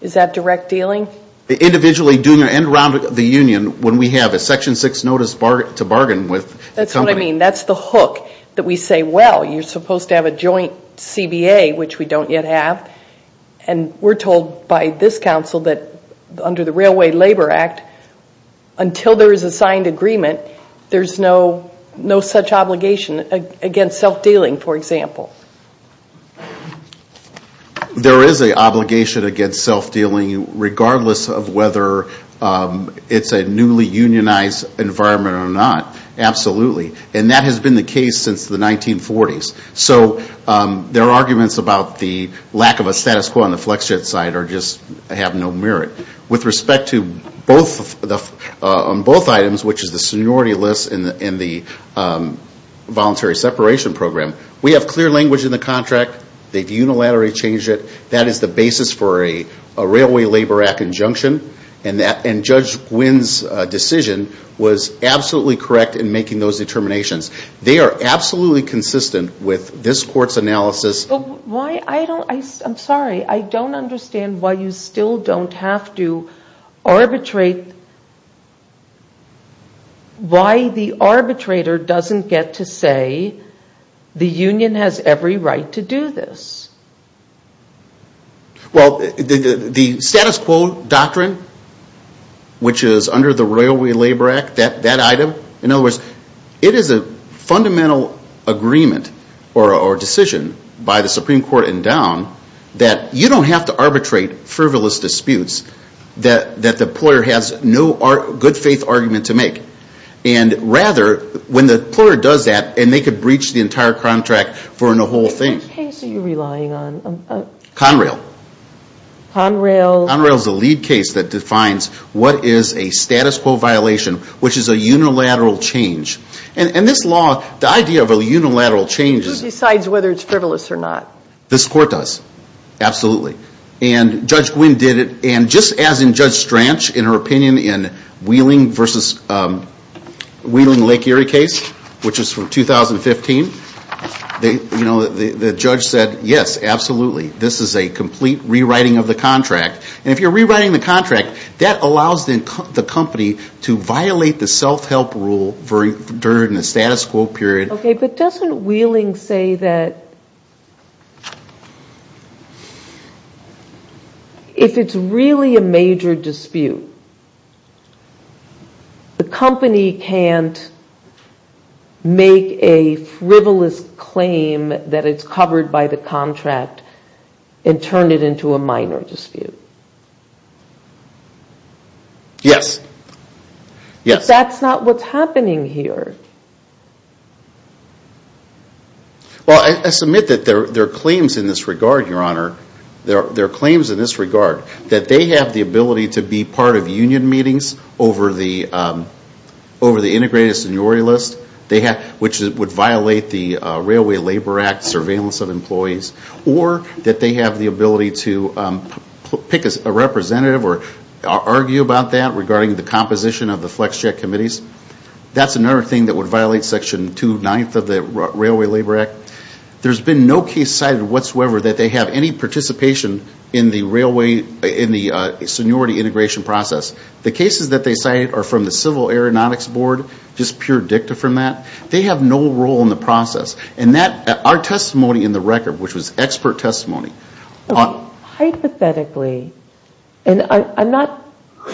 Is that direct dealing? Individually, doing it around the union when we have a Section 6 notice to bargain with the company. That's what I mean. That's the hook that we say, well, you're supposed to have a joint CBA, which we don't yet have. And we're told by this council that under the Railway Labor Act, until there is a signed agreement, there's no such obligation against self-dealing, for example. There is an obligation against self-dealing, regardless of whether it's a newly unionized environment or not. Absolutely. And that has been the case since the 1940s. So there are arguments about the lack of a status quo on the flex jet side or just have no merit. With respect to both items, which is the seniority list and the voluntary separation program, we have clear language in the contract. They've unilaterally changed it. That is the basis for a Railway Labor Act injunction. And Judge Gwynn's decision was absolutely correct in making those determinations. They are absolutely consistent with this court's analysis. I'm sorry. I don't understand why you still don't have to arbitrate why the arbitrator doesn't get to say the union has every right to do this. Well, the status quo doctrine, which is under the Railway Labor Act, that item, in other words, it is a fundamental agreement or decision by the Supreme Court and Down that you don't have to arbitrate frivolous disputes that the employer has no good faith argument to make. And rather, when the employer does that, and they could breach the entire contract for a whole thing. Which case are you relying on? Conrail. Conrail? Conrail is the lead case that defines what is a status quo violation, which is a unilateral change. And this law, the idea of a unilateral change Who decides whether it's frivolous or not? This court does. Absolutely. And Judge Gwynn did it. And just as in Judge Stranch in her opinion in Wheeling versus Lake Erie case, which is from 2015, the judge said, yes, absolutely. This is a complete rewriting of the contract. And if you're rewriting the contract, that allows the company to violate the self-help rule during the status quo period. Okay, but doesn't Wheeling say that if it's really a major dispute the company can't make a frivolous claim that it's covered by the contract and turn it into a minor dispute? Yes. But that's not what's happening here. Well, I submit that there are claims in this regard, Your Honor. There are claims in this regard that they have the ability to be part of union meetings over the integrated seniority list which would violate the Railway Labor Act surveillance of employees or that they have the ability to pick a representative or argue about that regarding the composition of the flex check committees. That's another thing that would violate Section 2-9 of the Railway Labor Act. There's been no case cited whatsoever that they have any participation in the seniority integration process. The cases that they cite are from the Civil Aeronautics Board, just pure dicta from that. They have no role in the process. Our testimony in the record, which was expert testimony... Hypothetically, and I'm not...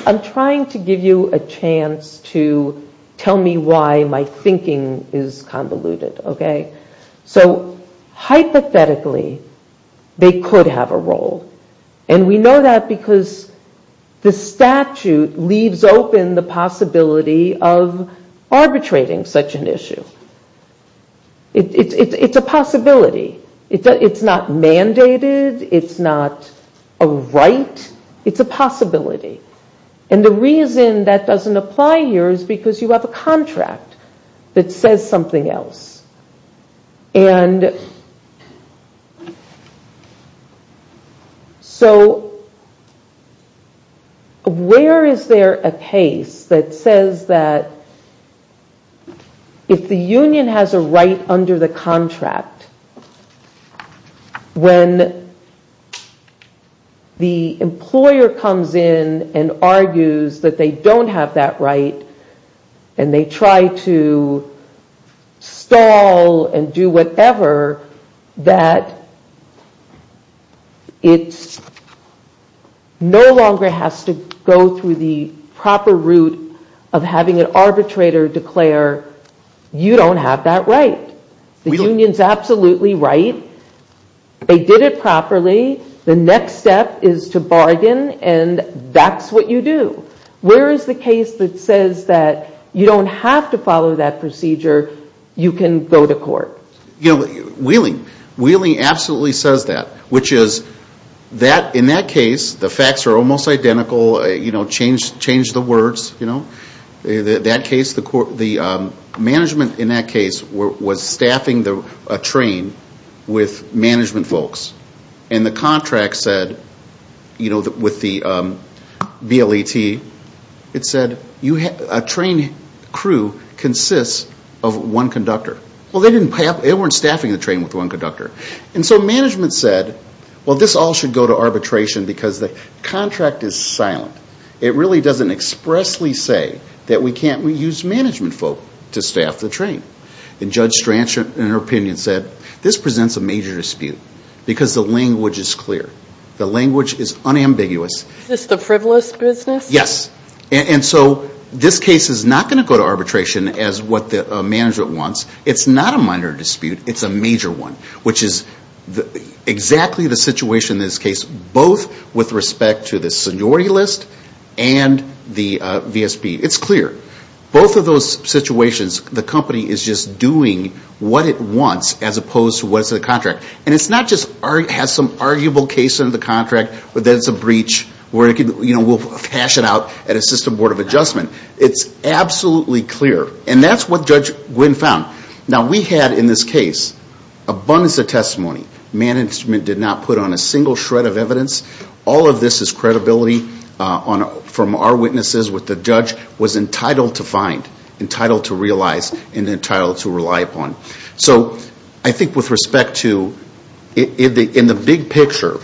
I'm trying to give you a chance to tell me why my thinking is convoluted, okay? So, hypothetically, they could have a role. And we know that because the statute leaves open the possibility of arbitrating such an issue. It's a possibility. It's not mandated. It's not a right. It's a possibility. And the reason that doesn't apply here is because you have a contract that says something else. And... So... Where is there a case that says that if the union has a right under the contract when the employer comes in and argues that they don't have that right and they try to stall and do whatever that it's no longer has to go through the proper route of having an arbitrator declare you don't have that right. The union's absolutely right. They did it properly. The next step is to bargain and that's what you do. Where is the case that says that you don't have to follow that procedure? You can go to court. Wheeling. Wheeling absolutely says that. In that case, the facts are almost identical. Change the words. The management in that case was staffing a train with management folks. And the contract said with the BLET a train crew consists of one conductor. They weren't staffing the train with one conductor. Management said this all should go to arbitration because the contract is silent. It really doesn't expressly say that we can't use management folk to staff the train. Judge Stransch in her opinion said this presents a major dispute because the language is clear. The language is unambiguous. Is this the frivolous business? Yes. This case is not going to go to arbitration as what the management wants. It's not a minor dispute. It's a major one. Which is exactly the situation in this case both with respect to the seniority list and the VSB. It's clear. Both of those situations the company is just doing what it wants as opposed to what's in the contract. And it's not just has some arguable case in the contract that it's a breach where we'll hash it out at a system board of adjustment. It's absolutely clear. And that's what Judge Gwynne found. Now we had in this case abundance of testimony. Management did not put on a single shred of evidence. All of this is credibility from our witnesses with the judge was entitled to find. Entitled to realize and entitled to rely upon. So I think with respect to in the big picture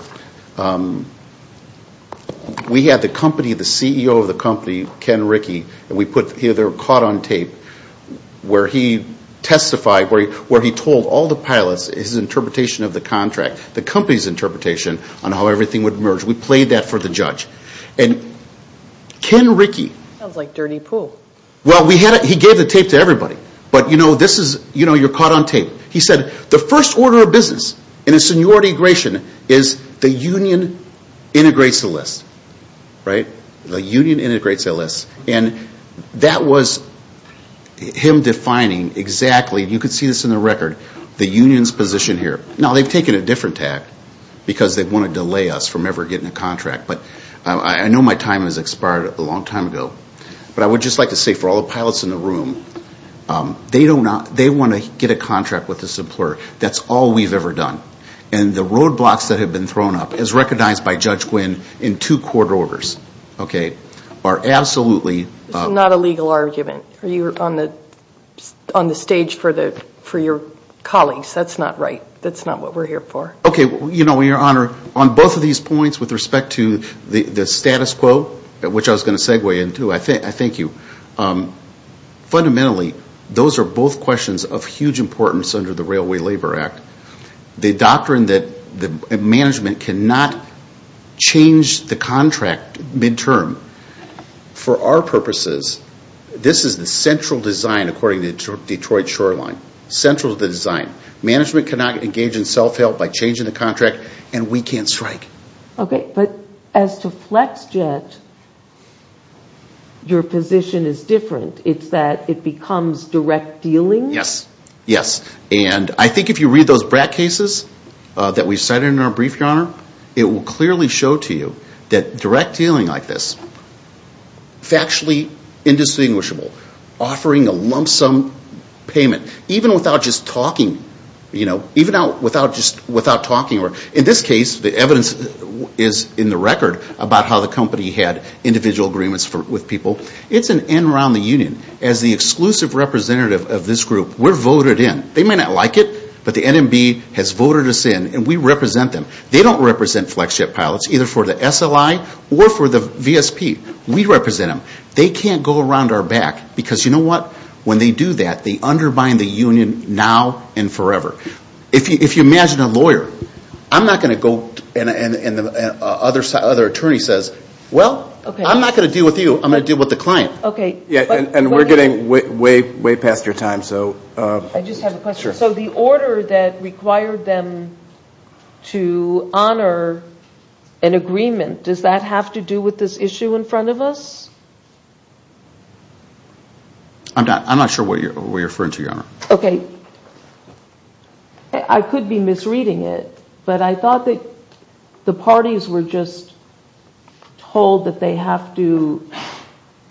we had the company, the CEO of the company Ken Rickey and we put either caught on tape where he testified where he told all the pilots his interpretation of the contract the company's interpretation on how everything would merge. We played that for the judge. Sounds like dirty pool. Well he gave the tape to everybody. But you know you're caught on tape. He said the first order of business in a seniority aggration is the union integrates the list. Right? The union integrates the list. And that was him defining exactly, you can see this in the record the union's position here. Now they've taken a different tack because they want to delay us from ever getting a contract. But I know my time has expired a long time ago but I would just like to say for all the pilots in the room they want to get a contract with this employer. That's all we've ever done. And the roadblocks that have been thrown up as recognized by Judge Gwyn in two court orders are absolutely This is not a legal argument. You're on the stage for your colleagues. That's not right. That's not what we're here for. You know your honor, on both of these points with respect to the status quo, which I was going to segue into I thank you. Fundamentally, those are both questions of huge importance under the Railway Labor Act. The doctrine that management cannot change the contract midterm. For our purposes, this is the central design according to Detroit Shoreline. Management cannot engage in self-help by changing the contract and we can't strike. But as to Flex Jet your position is different. It's that it becomes direct dealing? Yes. And I think if you read those BRAC cases that we cited in our brief, your honor it will clearly show to you that direct dealing like this factually indistinguishable offering a lump sum payment even without just talking. In this case, the evidence is in the record about how the company had individual agreements with people. It's an in around the union. As the exclusive representative of this group, we're voted in. They may not like it, but the NMB has voted us in and we represent them. They don't represent Flex Jet pilots, either for the SLI or for the VSP. We represent them. They can't go around our back because when they do that, they undermine the union now and forever. If you imagine a lawyer I'm not going to go and the other attorney says I'm not going to deal with you, I'm going to deal with the client. And we're getting way past your time. I just have a question. So the order that required them to honor an agreement does that have to do with this issue in front of us? I'm not sure what you're referring to, Your Honor. Okay. I could be misreading it, but I thought that the parties were just told that they have to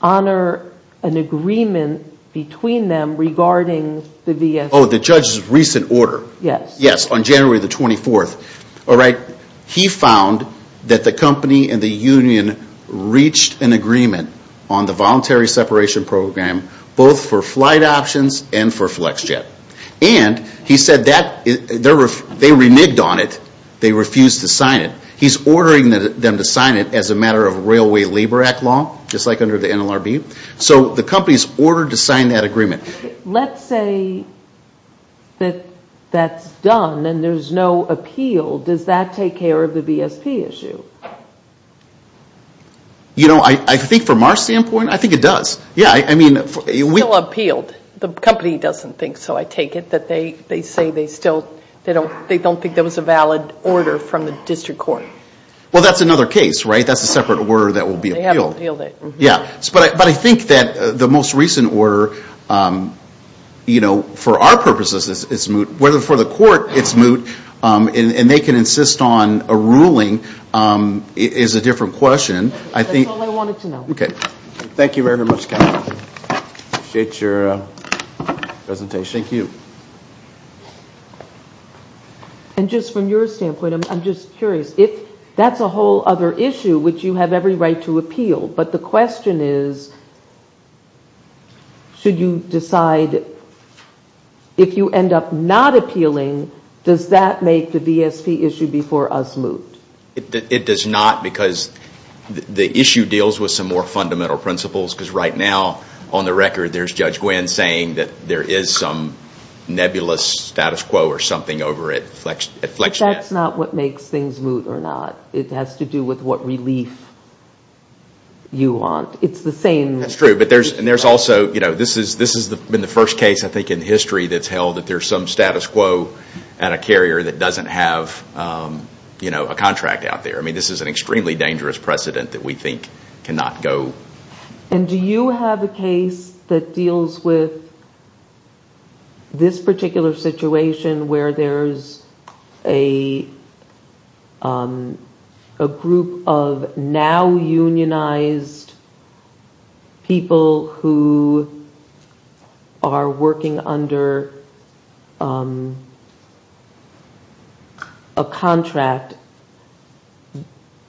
honor an agreement between them regarding the VSP. Oh, the judge's recent order. Yes. Yes, on January the 24th. He found that the company and the union reached an agreement on the voluntary separation program both for flight options and for Flex Jet. And he said that they reneged on it. They refused to sign it. He's ordering them to sign it as a matter of Railway Labor Act law just like under the NLRB. So the company's ordered to sign that agreement. Let's say that that's done and there's no appeal. Does that take care of the VSP issue? You know, I think from our standpoint, I think it does. It's still appealed. The company doesn't think so, I take it. They say they don't think there was a valid order from the district court. Well, that's another case, right? That's a separate order that will be appealed. But I think that the most recent order for our purposes, it's moot. For the court, it's moot. And they can insist on a ruling is a different question. That's all I wanted to know. Thank you very much, Kathy. I appreciate your presentation. Thank you. And just from your standpoint, I'm just curious. That's a whole other issue which you have every right to appeal. But the question is should you decide if you end up not appealing, does that make the VSP issue before us moot? It does not. Because the issue deals with some more fundamental principles. Because right now, on the record, there's Judge Gwynn saying that there is some nebulous status quo or something over at FlexNet. That's not what makes things moot or not. It has to do with what relief you want. It's the same. This has been the first case in history that's held that there's some status quo at a carrier that doesn't have a contract out there. This is an extremely dangerous precedent that we think cannot go. And do you have a case that deals with this particular situation where there's a group of now unionized people who are working under a contract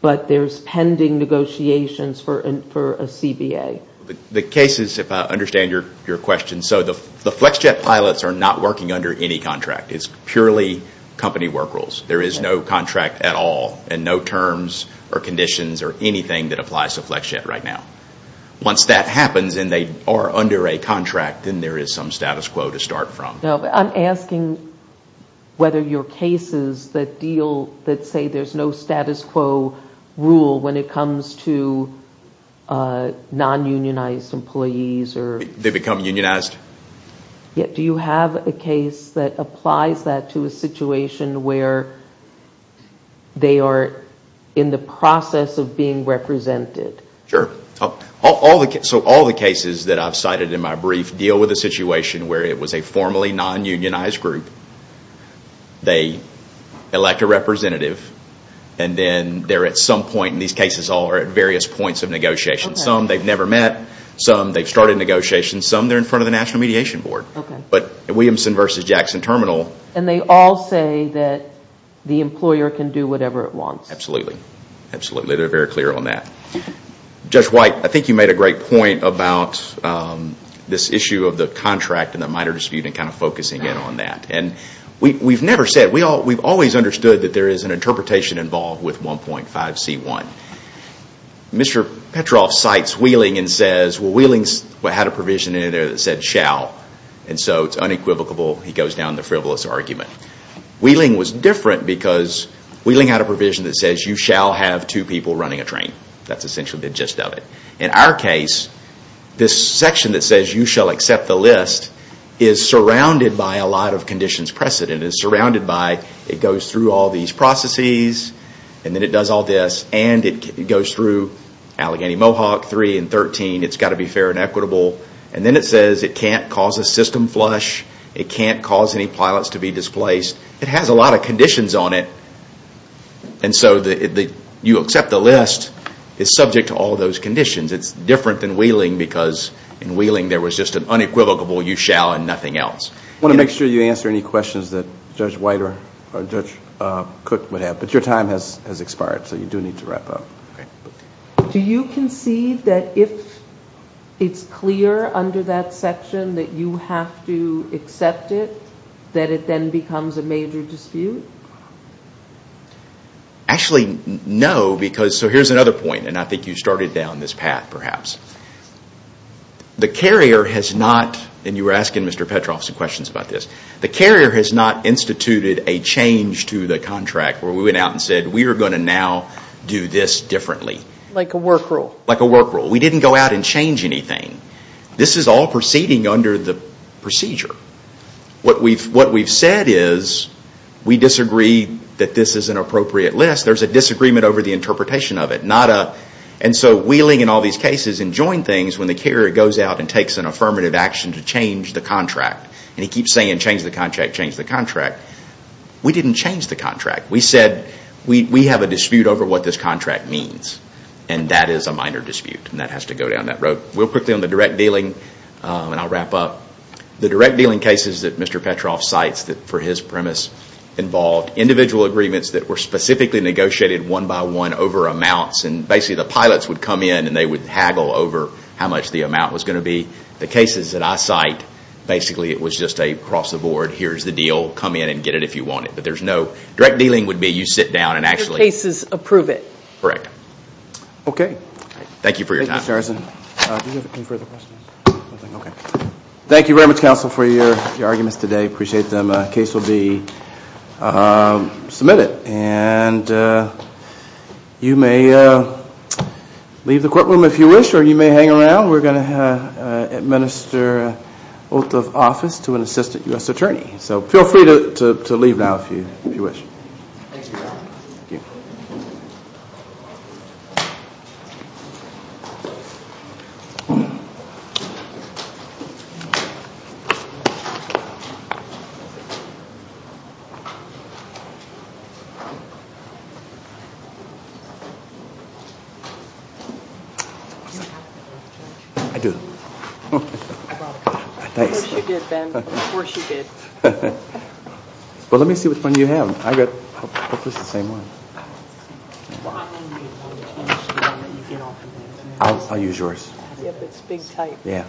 but there's pending negotiations for a CBA? The case is, if I understand your question, the FlexJet pilots are not working under any contract. It's purely company work rules. There is no contract at all and no terms or conditions or anything that applies to FlexJet right now. Once that happens and they are under a contract, then there is some status quo to start from. I'm asking whether your cases that deal that say there's no status quo rule when it comes to non-unionized employees. They become unionized? Do you have a case that applies that to a situation where they are in the process of being represented? All the cases that I've cited in my brief deal with a situation where it was a formally non-unionized group. They elect a representative and then they're at some point and these cases are all at various points of negotiation. Some they've never met. Some they've started negotiations. Some they're in front of the National Mediation Board. Williamson versus Jackson Terminal. They all say that the employer can do whatever it wants. Absolutely. They're very clear on that. Judge White, I think you made a great point about this issue of the contract and the minor dispute and focusing in on that. We've always understood that there is an interpretation involved with 1.5C1. Mr. Petroff cites Wheeling and says Wheeling had a provision in there that said shall. It's unequivocal. He goes down the frivolous argument. Wheeling was different because Wheeling had a provision that says you shall have two people running a train. That's essentially the gist of it. In our case, this section that says you shall accept the list is surrounded by a lot of conditions precedent. It goes through all these processes and then it does all this and it goes through Allegheny Mohawk 3 and 13. It's got to be fair and equitable. Then it says it can't cause a system flush. It can't cause any pilots to be displaced. It has a lot of conditions on it. You accept the list is subject to all those conditions. It's different than Wheeling because in Wheeling there was just an unequivocal you shall and nothing else. I want to make sure you answer any questions that Judge White or Judge Cook would have. But your time has expired. So you do need to wrap up. Do you concede that if it's clear under that section that you have to accept it that it then becomes a major dispute? Actually, no. Here's another point and I think you started down this path perhaps. The carrier has not and you were asking Mr. Petroff some questions about this the carrier has not instituted a change to the contract where we went out and said we are going to now do this differently. Like a work rule? Like a work rule. We didn't go out and change anything. This is all proceeding under the procedure. What we've said is we disagree that this is an appropriate list. There's a disagreement over the interpretation of it. So Wheeling in all these cases enjoying things when the carrier goes out and takes an affirmative action to change the contract and he keeps saying change the contract, change the contract we didn't change the contract. We have a dispute over what this contract means and that is a minor dispute and that has to go down that road. Real quickly on the direct dealing and I'll wrap up. The direct dealing cases that Mr. Petroff cites for his premise involved individual agreements that were specifically negotiated one by one over amounts and basically the pilots would come in and they would haggle over how much the amount was going to be. The cases that I cite, basically it was just a cross the board, here's the deal, come in and get it if you want it. Direct dealing would be you sit down and actually Your cases approve it. Thank you for your time. Thank you very much counsel for your arguments today. I appreciate them. The case will be submitted and you may leave the courtroom if you wish or you may hang around. We're going to administer oath of office to an assistant U.S. attorney. So feel free to leave now if you wish. Thank you. I do. Thanks. Well let me see which one you have. I got the same one. I'll use yours. Yeah.